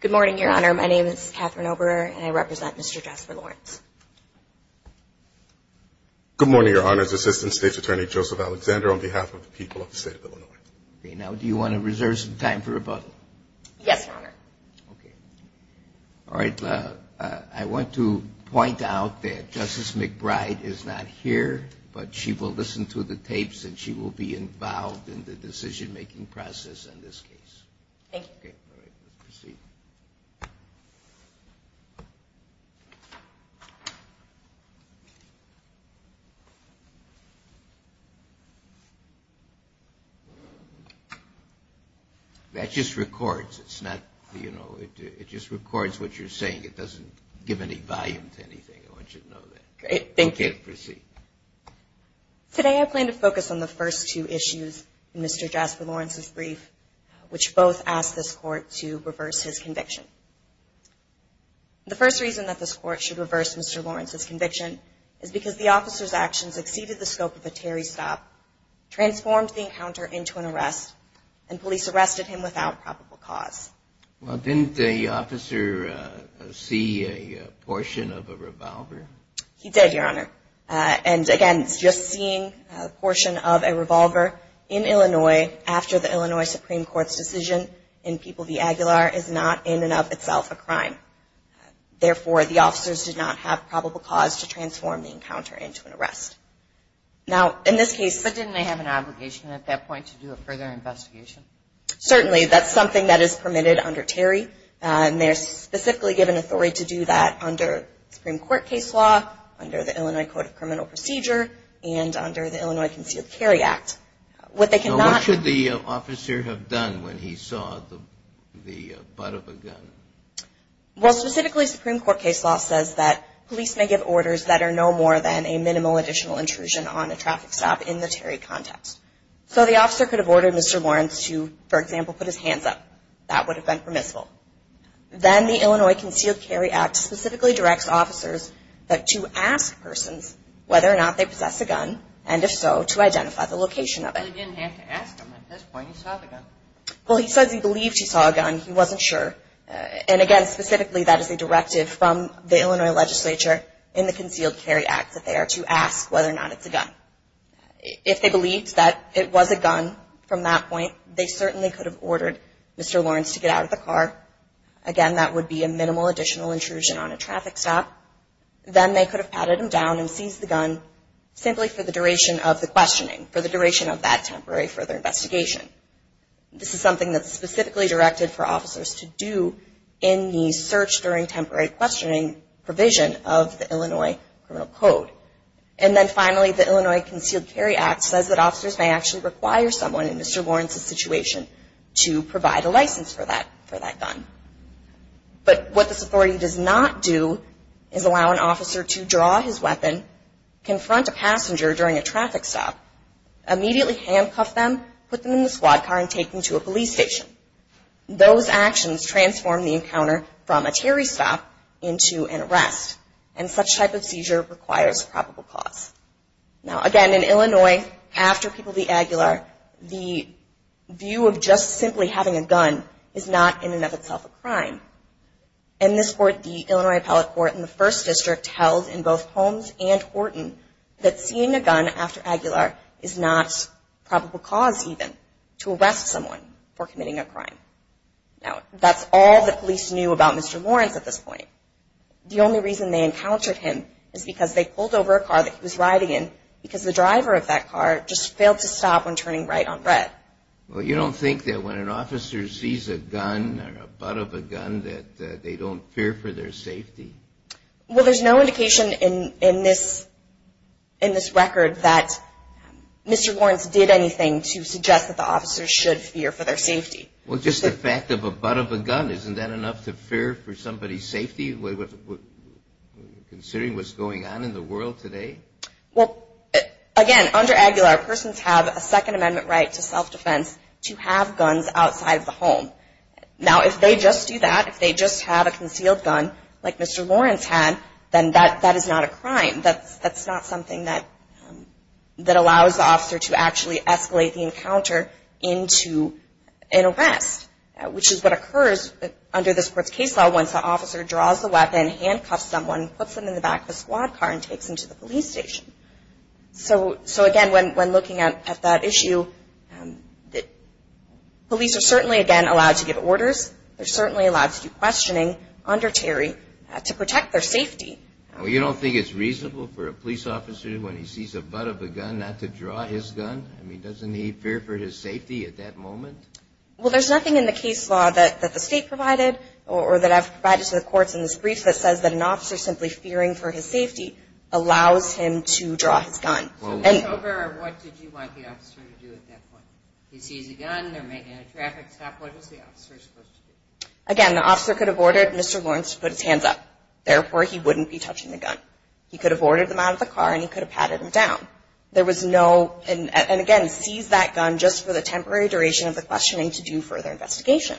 Good morning, Your Honor. My name is Catherine Oberer, and I represent Mr. Jasper Lawrence. Good morning, Your Honor. It's Assistant State's Attorney Joseph Alexander on behalf of the people of the State of Illinois. Now, do you want to reserve some time for rebuttal? Yes, Your Honor. Okay. All right. I want to point out that Justice McBride is not here, but she will listen to the tapes, and she will be involved in the decision-making process in this case. Thank you. Okay. All right. Let's proceed. That just records. It's not, you know, it just records what you're saying. It doesn't give any volume to anything. I want you to know that. Great. Thank you. Okay. Proceed. Today I plan to focus on the first two issues in Mr. Jasper Lawrence's brief, which both ask this Court to reverse his conviction. The first reason that this Court should reverse Mr. Lawrence's conviction is because the officer's actions exceeded the scope of a Terry stop, transformed the encounter into an arrest, and police arrested him without probable cause. Well, didn't the officer see a portion of a revolver? He did, Your Honor. And, again, just seeing a portion of a revolver in Illinois after the Illinois Supreme Court's decision in People v. Aguilar is not in and of itself a crime. Therefore, the officers did not have probable cause to transform the encounter into an arrest. Now, in this case… But didn't they have an obligation at that point to do a further investigation? Certainly. That's something that is permitted under Terry, and they're specifically given authority to do that under Supreme Court case law, under the Illinois Code of Criminal Procedure, and under the Illinois Concealed Carry Act. What they cannot… What should the officer have done when he saw the butt of a gun? Well, specifically, Supreme Court case law says that police may give orders that are no more than a minimal additional intrusion on a traffic stop in the Terry context. So the officer could have ordered Mr. Lawrence to, for example, put his hands up. That would have been permissible. Then the Illinois Concealed Carry Act specifically directs officers to ask persons whether or not they possess a gun, and if so, to identify the location of it. But he didn't have to ask them at this point. He saw the gun. Well, he says he believed he saw a gun. He wasn't sure. And, again, specifically, that is a directive from the Illinois legislature in the Concealed Carry Act that they are to ask whether or not it's a gun. If they believed that it was a gun from that point, they certainly could have ordered Mr. Lawrence to get out of the car. Again, that would be a minimal additional intrusion on a traffic stop. Then they could have patted him down and seized the gun simply for the duration of the questioning, for the duration of that temporary further investigation. This is something that's specifically directed for officers to do in the search during temporary questioning provision of the Illinois Criminal Code. And then, finally, the Illinois Concealed Carry Act says that officers may actually require someone in Mr. Lawrence's situation to provide a license for that gun. But what this authority does not do is allow an officer to draw his weapon, confront a passenger during a traffic stop, immediately handcuff them, put them in the squad car, and take them to a police station. Those actions transform the encounter from a terry stop into an arrest, and such type of seizure requires probable cause. Now, again, in Illinois, after people be Aguilar, the view of just simply having a gun is not in and of itself a crime. In this court, the Illinois Appellate Court in the 1st District tells in both Holmes and Horton that seeing a gun after Aguilar is not probable cause even to arrest someone for committing a crime. Now, that's all the police knew about Mr. Lawrence at this point. The only reason they encountered him is because they pulled over a car that he was riding in because the driver of that car just failed to stop when turning right on red. Well, you don't think that when an officer sees a gun or a butt of a gun, that they don't fear for their safety? Well, there's no indication in this record that Mr. Lawrence did anything to suggest that the officers should fear for their safety. Well, just the fact of a butt of a gun, isn't that enough to fear for somebody's safety, considering what's going on in the world today? Well, again, under Aguilar, persons have a Second Amendment right to self-defense to have guns outside of the home. Now, if they just do that, if they just have a concealed gun like Mr. Lawrence had, then that is not a crime. That's not something that allows the officer to actually escalate the encounter into an arrest, which is what occurs under this court's case law once the officer draws the weapon, handcuffs someone, puts them in the back of a squad car, and takes them to the police station. So, again, when looking at that issue, police are certainly, again, allowed to give orders. They're certainly allowed to do questioning under Terry to protect their safety. Well, you don't think it's reasonable for a police officer, when he sees a butt of a gun, not to draw his gun? I mean, doesn't he fear for his safety at that moment? Well, there's nothing in the case law that the state provided, or that I've provided to the courts in this brief, that says that an officer simply fearing for his safety allows him to draw his gun. So in October, what did you want the officer to do at that point? He sees a gun, they're making a traffic stop, what was the officer supposed to do? Again, the officer could have ordered Mr. Lawrence to put his hands up. Therefore, he wouldn't be touching the gun. He could have ordered him out of the car, and he could have patted him down. There was no, and again, seize that gun just for the temporary duration of the questioning to do further investigation.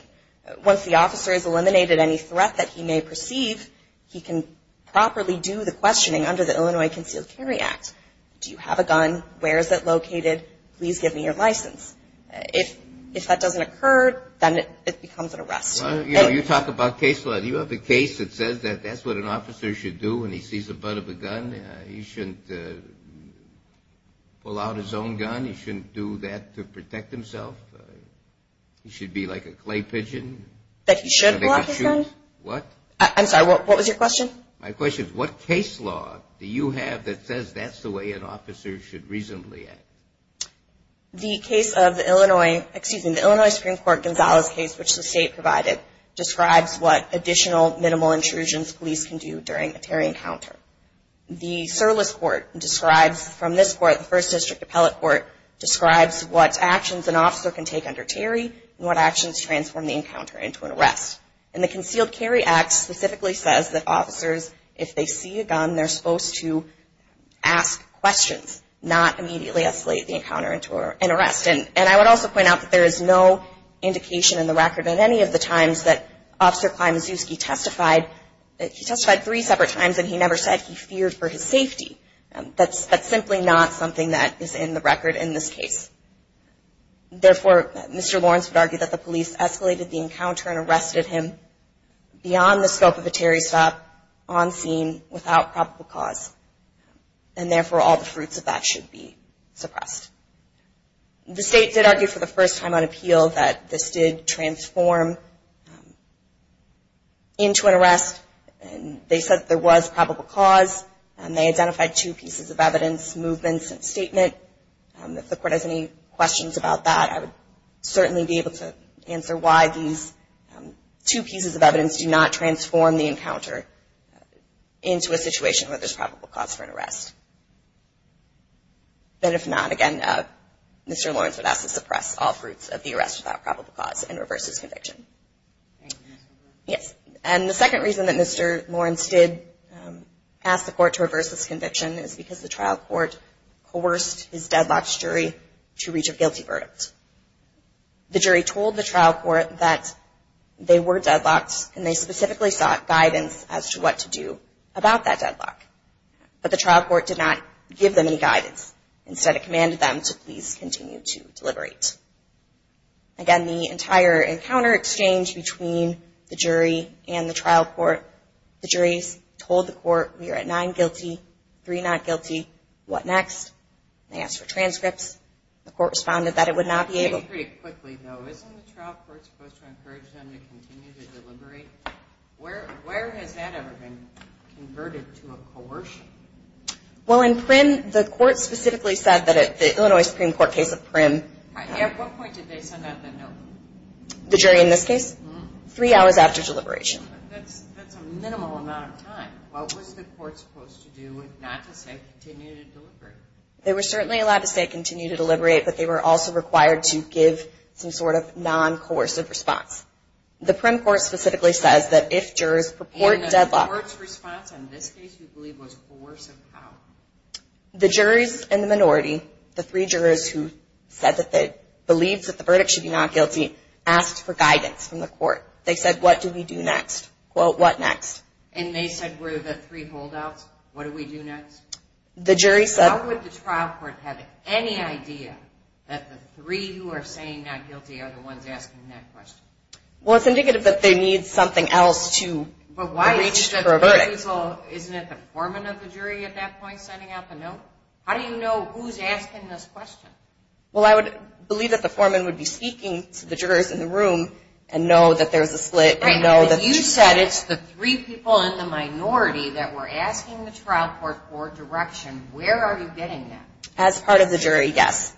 Once the officer has eliminated any threat that he may perceive, he can properly do the questioning under the Illinois Concealed Carry Act. Do you have a gun? Where is it located? If that doesn't occur, then it becomes an arrest. You talk about case law. Do you have a case that says that that's what an officer should do when he sees the butt of a gun? He shouldn't pull out his own gun? He shouldn't do that to protect himself? He should be like a clay pigeon? That he should pull out his gun? What? I'm sorry, what was your question? My question is, what case law do you have that says that's the way an officer should reasonably act? The case of the Illinois, excuse me, the Illinois Supreme Court Gonzales case, which the state provided, describes what additional minimal intrusions police can do during a Terry encounter. The Surless Court describes, from this court, the First District Appellate Court, describes what actions an officer can take under Terry, and what actions transform the encounter into an arrest. And the Concealed Carry Act specifically says that officers, if they see a gun, they're supposed to ask questions, not immediately escalate the encounter into an arrest. And I would also point out that there is no indication in the record at any of the times that Officer Klimazewski testified. He testified three separate times, and he never said he feared for his safety. That's simply not something that is in the record in this case. Therefore, Mr. Lawrence would argue that the police escalated the encounter and arrested him beyond the scope of a Terry stop, on scene, without probable cause. And therefore, all the fruits of that should be suppressed. The state did argue for the first time on appeal that this did transform into an arrest. They said there was probable cause, and they identified two pieces of evidence, movements and statement. If the court has any questions about that, I would certainly be able to answer why these two pieces of evidence do not transform the encounter into a situation where there's probable cause for an arrest. But if not, again, Mr. Lawrence would ask to suppress all fruits of the arrest without probable cause and reverse his conviction. And the second reason that Mr. Lawrence did ask the court to reverse his conviction is because the trial court coerced his deadlocked jury to reach a guilty verdict. The jury told the trial court that they were deadlocked, and they specifically sought guidance as to what to do about that deadlock. But the trial court did not give them any guidance. Instead, it commanded them to please continue to deliberate. Again, the entire encounter exchange between the jury and the trial court, the juries told the court, we are at nine guilty, three not guilty, what next? They asked for transcripts. The court responded that it would not be able to. Pretty quickly, though, isn't the trial court supposed to encourage them to continue to deliberate? Where has that ever been converted to a coercion? Well, in Prym, the court specifically said that at the Illinois Supreme Court case of Prym. At what point did they send out the note? The jury in this case? Mm-hmm. Three hours after deliberation. That's a minimal amount of time. What was the court supposed to do not to say continue to deliberate? They were certainly allowed to say continue to deliberate, but they were also required to give some sort of non-coercive response. The Prym court specifically says that if jurors purport deadlocked. And the court's response in this case, you believe, was coercive how? The juries and the minority, the three jurors who said that they believed that the verdict should be not guilty, asked for guidance from the court. They said, what do we do next? Quote, what next? And they said, were the three holdouts, what do we do next? The jury said. How would the trial court have any idea that the three who are saying not guilty are the ones asking that question? Well, it's indicative that they need something else to reach for a verdict. But why is it that the jury's all, isn't it the foreman of the jury at that point sending out the note? How do you know who's asking this question? Well, I would believe that the foreman would be speaking to the jurors in the room and know that there's a split. You said it's the three people in the minority that were asking the trial court for direction. Where are you getting that? As part of the jury, yes.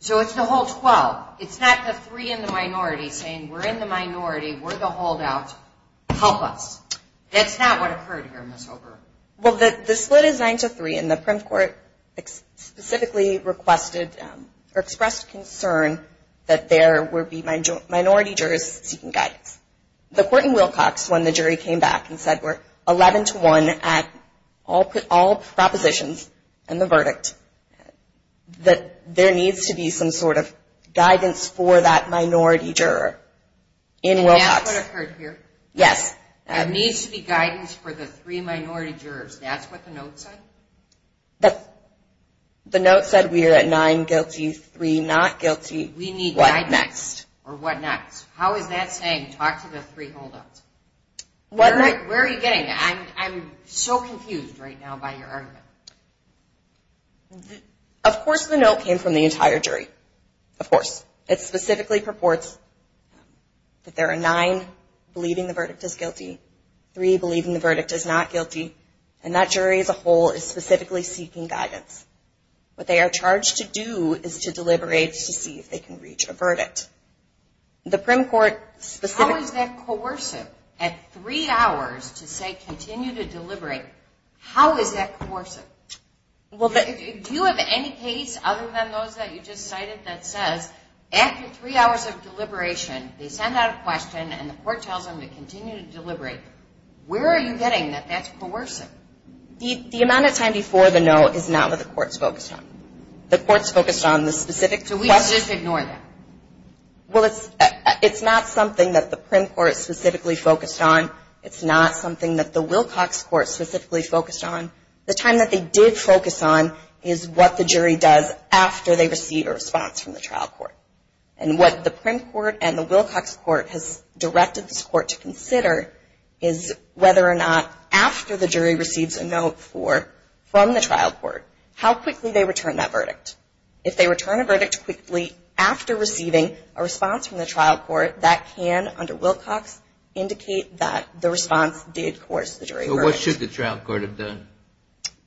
So it's the whole 12. It's not the three in the minority saying we're in the minority, we're the holdouts, help us. That's not what occurred here in this over. Well, the split is 9-3, and the prim court specifically requested or expressed concern that there would be minority jurors seeking guidance. The court in Wilcox, when the jury came back and said we're 11-1 at all propositions and the verdict, that there needs to be some sort of guidance for that minority juror in Wilcox. And that's what occurred here? Yes. That needs to be guidance for the three minority jurors. That's what the note said? The note said we are at 9 guilty, 3 not guilty, what next? Or what next? How is that saying talk to the three holdouts? Where are you getting that? I'm so confused right now by your argument. Of course the note came from the entire jury. Of course. It specifically purports that there are nine believing the verdict is guilty, three believing the verdict is not guilty, and that jury as a whole is specifically seeking guidance. What they are charged to do is to deliberate to see if they can reach a verdict. How is that coercive at three hours to say continue to deliberate? How is that coercive? Do you have any case other than those that you just cited that says after three hours of deliberation, they send out a question and the court tells them to continue to deliberate? Where are you getting that that's coercive? The amount of time before the note is not what the court is focused on. The court is focused on the specific question. So we just ignore that? Well, it's not something that the prim court is specifically focused on. It's not something that the Wilcox court is specifically focused on. The time that they did focus on is what the jury does after they receive a response from the trial court. And what the prim court and the Wilcox court has directed this court to consider is whether or not after the jury receives a note from the trial court, how quickly they return that verdict. If they return a verdict quickly after receiving a response from the trial court, that can, under Wilcox, indicate that the response did coerce the jury. So what should the trial court have done?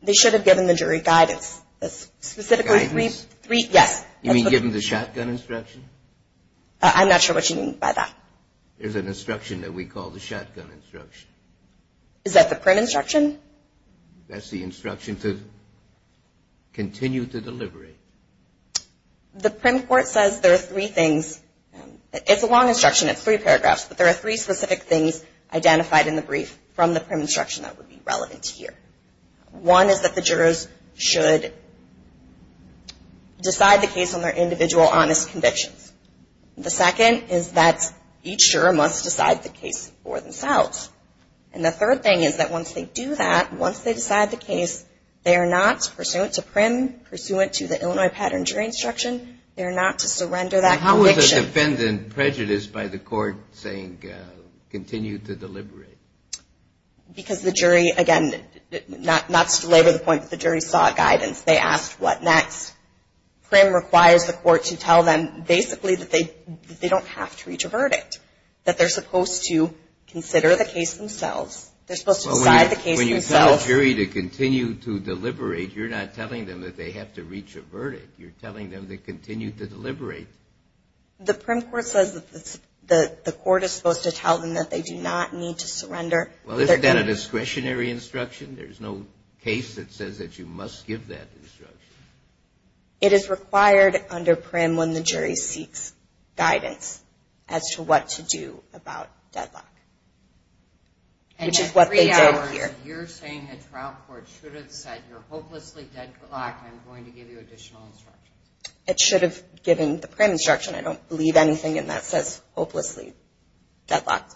They should have given the jury guidance. Guidance? Yes. You mean given the shotgun instruction? I'm not sure what you mean by that. There's an instruction that we call the shotgun instruction. Is that the prim instruction? That's the instruction to continue to deliberate. The prim court says there are three things. It's a long instruction. It's three paragraphs. But there are three specific things identified in the brief from the prim instruction that would be relevant here. One is that the jurors should decide the case on their individual honest convictions. The second is that each juror must decide the case for themselves. And the third thing is that once they do that, once they decide the case, they are not pursuant to prim, pursuant to the Illinois pattern jury instruction. They are not to surrender that conviction. Why is the defendant prejudiced by the court saying continue to deliberate? Because the jury, again, not to belabor the point, but the jury saw guidance. They asked what next. Prim requires the court to tell them basically that they don't have to reach a verdict, that they're supposed to consider the case themselves. They're supposed to decide the case themselves. When you tell a jury to continue to deliberate, you're not telling them that they have to reach a verdict. You're telling them to continue to deliberate. The prim court says that the court is supposed to tell them that they do not need to surrender. Well, isn't that a discretionary instruction? There's no case that says that you must give that instruction. It is required under prim when the jury seeks guidance as to what to do about deadlock, which is what they did here. And in three hours, you're saying the trial court should have said, you're hopelessly deadlocked, and I'm going to give you additional instructions. It should have given the prim instruction. I don't believe anything in that says hopelessly deadlocked.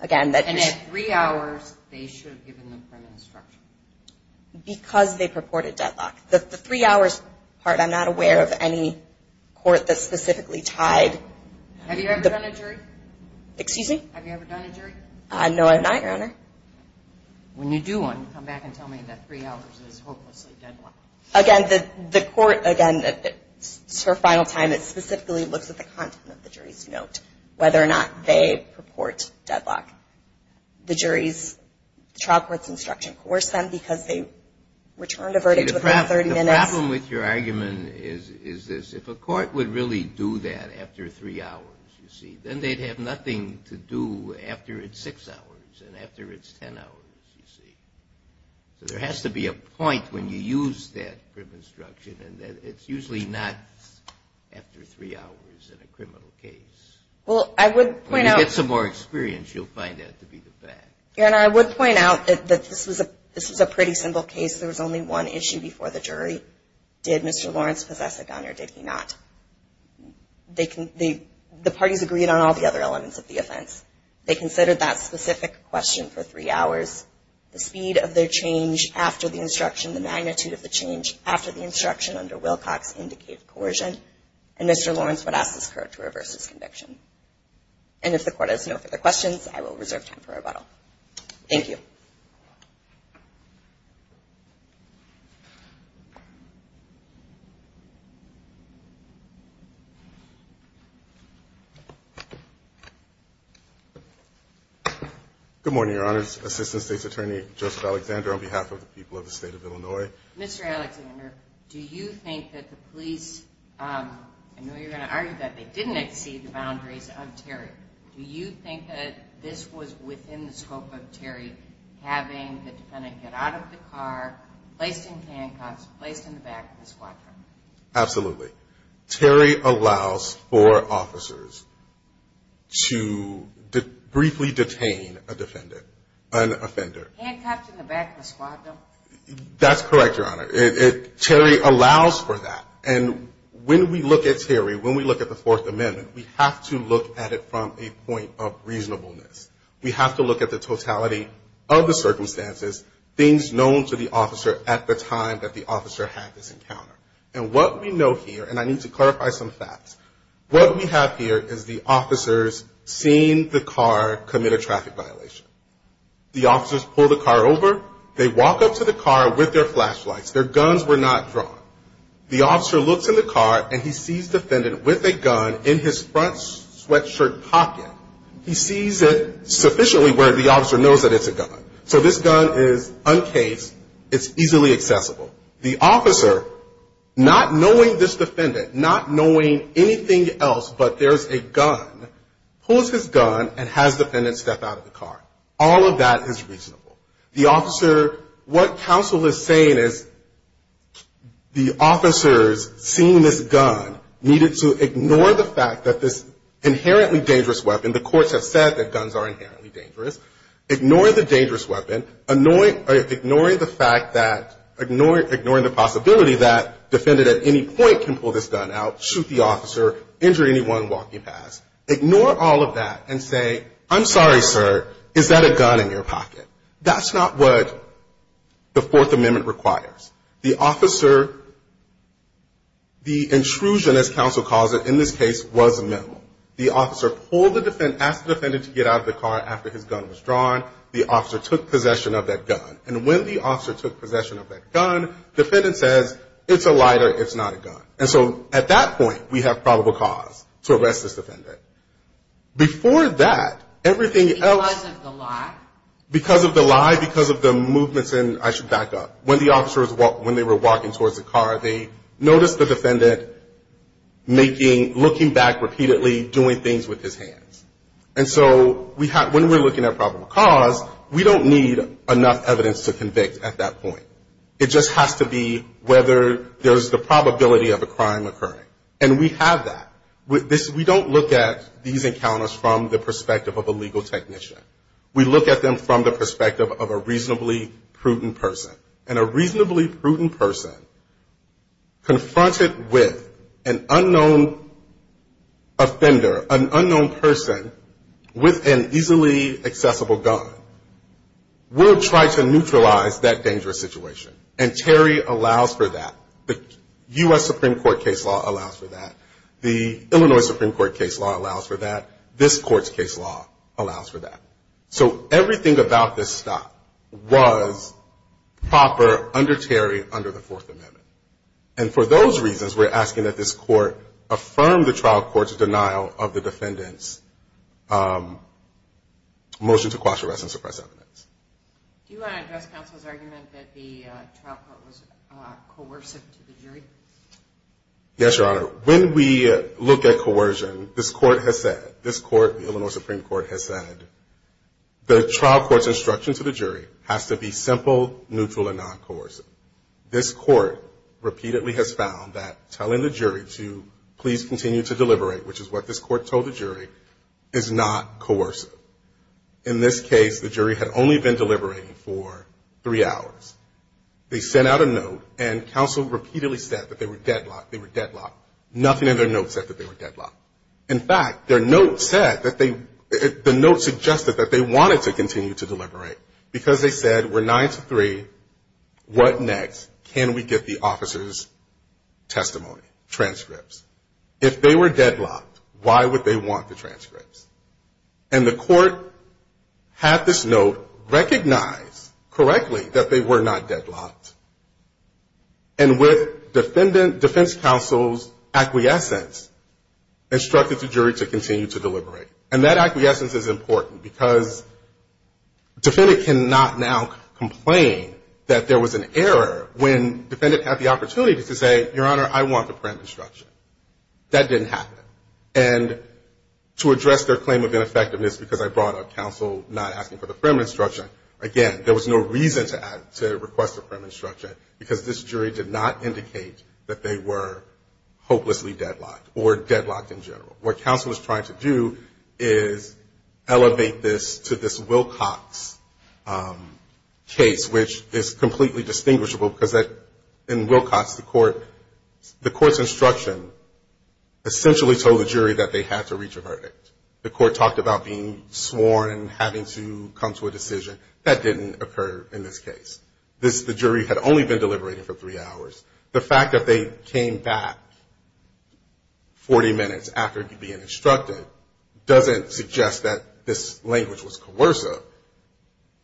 And in three hours, they should have given the prim instruction. Because they purported deadlocked. The three hours part, I'm not aware of any court that specifically tied. Have you ever done a jury? Excuse me? Have you ever done a jury? No, I have not, Your Honor. When you do one, come back and tell me that three hours is hopelessly deadlocked. Again, the court, again, it's her final time. It specifically looks at the content of the jury's note, whether or not they purport deadlocked. The jury's trial court's instruction coerced them because they returned a verdict within 30 minutes. The problem with your argument is this. If a court would really do that after three hours, you see, then they'd have nothing to do after it's six hours and after it's ten hours, you see. So there has to be a point when you use that prim instruction, and it's usually not after three hours in a criminal case. Well, I would point out. When you get some more experience, you'll find that to be the fact. Your Honor, I would point out that this was a pretty simple case. There was only one issue before the jury. Did Mr. Lawrence possess a gun or did he not? The parties agreed on all the other elements of the offense. They considered that specific question for three hours. The speed of their change after the instruction, the magnitude of the change after the instruction under Wilcox indicated coercion, and Mr. Lawrence would ask this court to reverse his conviction. And if the court has no further questions, I will reserve time for rebuttal. Thank you. Good morning, Your Honor. Assistant State's Attorney, Justice Alexander, on behalf of the people of the State of Illinois. Mr. Alexander, do you think that the police, I know you're going to argue that they didn't exceed the boundaries of Terry. Do you think that this was within the scope of Terry having the defendant get out of the car, placed in handcuffs, placed in the back of the squad car? Absolutely. Terry allows for officers to briefly detain a defendant, an offender. Handcuffed in the back of the squad car? That's correct, Your Honor. Terry allows for that. And when we look at Terry, when we look at the Fourth Amendment, we have to look at it from a point of reasonableness. We have to look at the totality of the circumstances, things known to the officer at the time that the officer had this encounter. And what we know here, and I need to clarify some facts, what we have here is the officers seeing the car commit a traffic violation. The officers pull the car over. They walk up to the car with their flashlights. Their guns were not drawn. The officer looks in the car, and he sees the defendant with a gun in his front sweatshirt pocket. He sees it sufficiently where the officer knows that it's a gun. So this gun is uncased. It's easily accessible. The officer, not knowing this defendant, not knowing anything else but there's a gun, pulls his gun and has the defendant step out of the car. All of that is reasonable. The officer, what counsel is saying is the officers, seeing this gun, needed to ignore the fact that this inherently dangerous weapon, the courts have said that guns are inherently dangerous, ignore the dangerous weapon, ignoring the fact that, ignoring the possibility that defendant at any point can pull this gun out, shoot the officer, injure anyone walking past. Ignore all of that and say, I'm sorry, sir, is that a gun in your pocket? That's not what the Fourth Amendment requires. The officer, the intrusion, as counsel calls it in this case, was minimal. The officer pulled the defendant, asked the defendant to get out of the car after his gun was drawn. The officer took possession of that gun. And when the officer took possession of that gun, defendant says, it's a lighter, it's not a gun. And so at that point, we have probable cause to arrest this defendant. Before that, everything else. Because of the lie? Because of the lie, because of the movements in, I should back up, when the officers, when they were walking towards the car, they noticed the defendant making, looking back repeatedly, doing things with his hands. And so we have, when we're looking at probable cause, we don't need enough evidence to convict at that point. It just has to be whether there's the probability of a crime occurring. And we have that. We don't look at these encounters from the perspective of a legal technician. We look at them from the perspective of a reasonably prudent person. And a reasonably prudent person confronted with an unknown offender, an unknown person with an easily accessible gun, will try to neutralize that dangerous situation. And Terry allows for that. The U.S. Supreme Court case law allows for that. The Illinois Supreme Court case law allows for that. This court's case law allows for that. So everything about this stop was proper under Terry, under the Fourth Amendment. And for those reasons, we're asking that this court affirm the trial court's denial of the defendant's motion to quash arrests and suppress evidence. Do you want to address counsel's argument that the trial court was coercive to the jury? Yes, Your Honor. When we look at coercion, this court has said, this court, the Illinois Supreme Court has said, the trial court's instruction to the jury has to be simple, neutral, and non-coercive. This court repeatedly has found that telling the jury to please continue to deliberate, which is what this court told the jury, is not coercive. In this case, the jury had only been deliberating for three hours. They sent out a note, and counsel repeatedly said that they were deadlocked, they were deadlocked. Nothing in their note said that they were deadlocked. In fact, their note said that they, the note suggested that they wanted to continue to deliberate. Because they said, we're nine to three, what next? Can we get the officer's testimony, transcripts? If they were deadlocked, why would they want the transcripts? And the court had this note recognize correctly that they were not deadlocked. And with defendant, defense counsel's acquiescence, instructed the jury to continue to deliberate. And that acquiescence is important, because defendant cannot now complain that there was an error when defendant had the opportunity to say, your Honor, I want the prim instruction. That didn't happen. And to address their claim of ineffectiveness because I brought up counsel not asking for the prim instruction, again, there was no reason to request the prim instruction, because this jury did not indicate that they were hopelessly deadlocked or deadlocked in general. What counsel was trying to do is elevate this to this Wilcox case, which is completely distinguishable, because in Wilcox, the court's instruction essentially told the jury that they had to reach a verdict. The court talked about being sworn, having to come to a decision. That didn't occur in this case. The jury had only been deliberating for three hours. The fact that they came back 40 minutes after being instructed doesn't suggest that this language was coercive.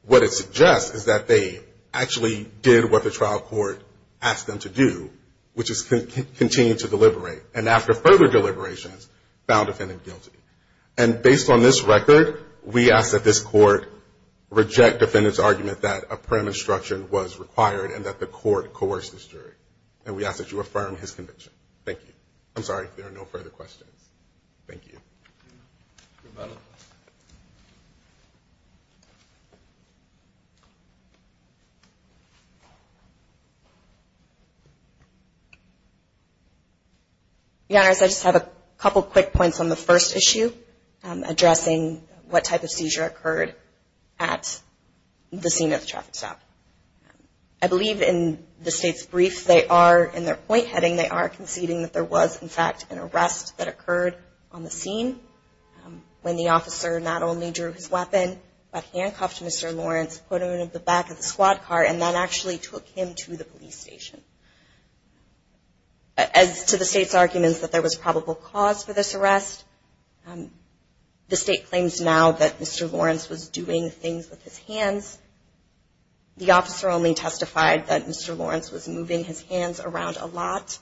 What it suggests is that they actually did what the trial court asked them to do, which is continue to deliberate. And after further deliberations, found defendant guilty. And based on this record, we ask that this court reject defendant's argument that a prim instruction was required and that the court coerce this jury. And we ask that you affirm his conviction. Thank you. I'm sorry if there are no further questions. Thank you. I just have a couple quick points on the first issue, addressing what type of seizure occurred at the scene of the traffic stop. I believe in the state's brief, they are, in their point heading, they are conceding that there was, in fact, an arrest that occurred on the scene when the officer not only drew his weapon, but handcuffed Mr. Lawrence, put him in the back of the squad car, and then actually took him to the police station. As to the state's arguments that there was probable cause for this arrest, the state claims now that Mr. Lawrence was doing things with his hands. The officer only testified that Mr. Lawrence was moving his hands around a lot.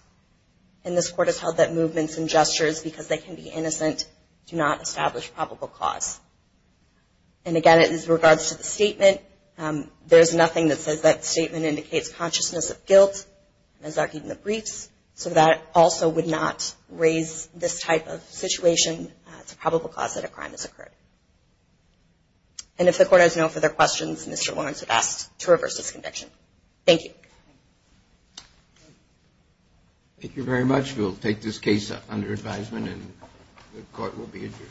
And this court has held that movements and gestures, because they can be innocent, do not establish probable cause. And again, as regards to the statement, there's nothing that says that statement indicates consciousness of guilt, as argued in the briefs, so that also would not raise this type of situation to probable cause that a crime has occurred. And if the court has no further questions, Mr. Lawrence is asked to reverse this conviction. Thank you. Thank you very much. We'll take this case under advisement and the court will be adjourned.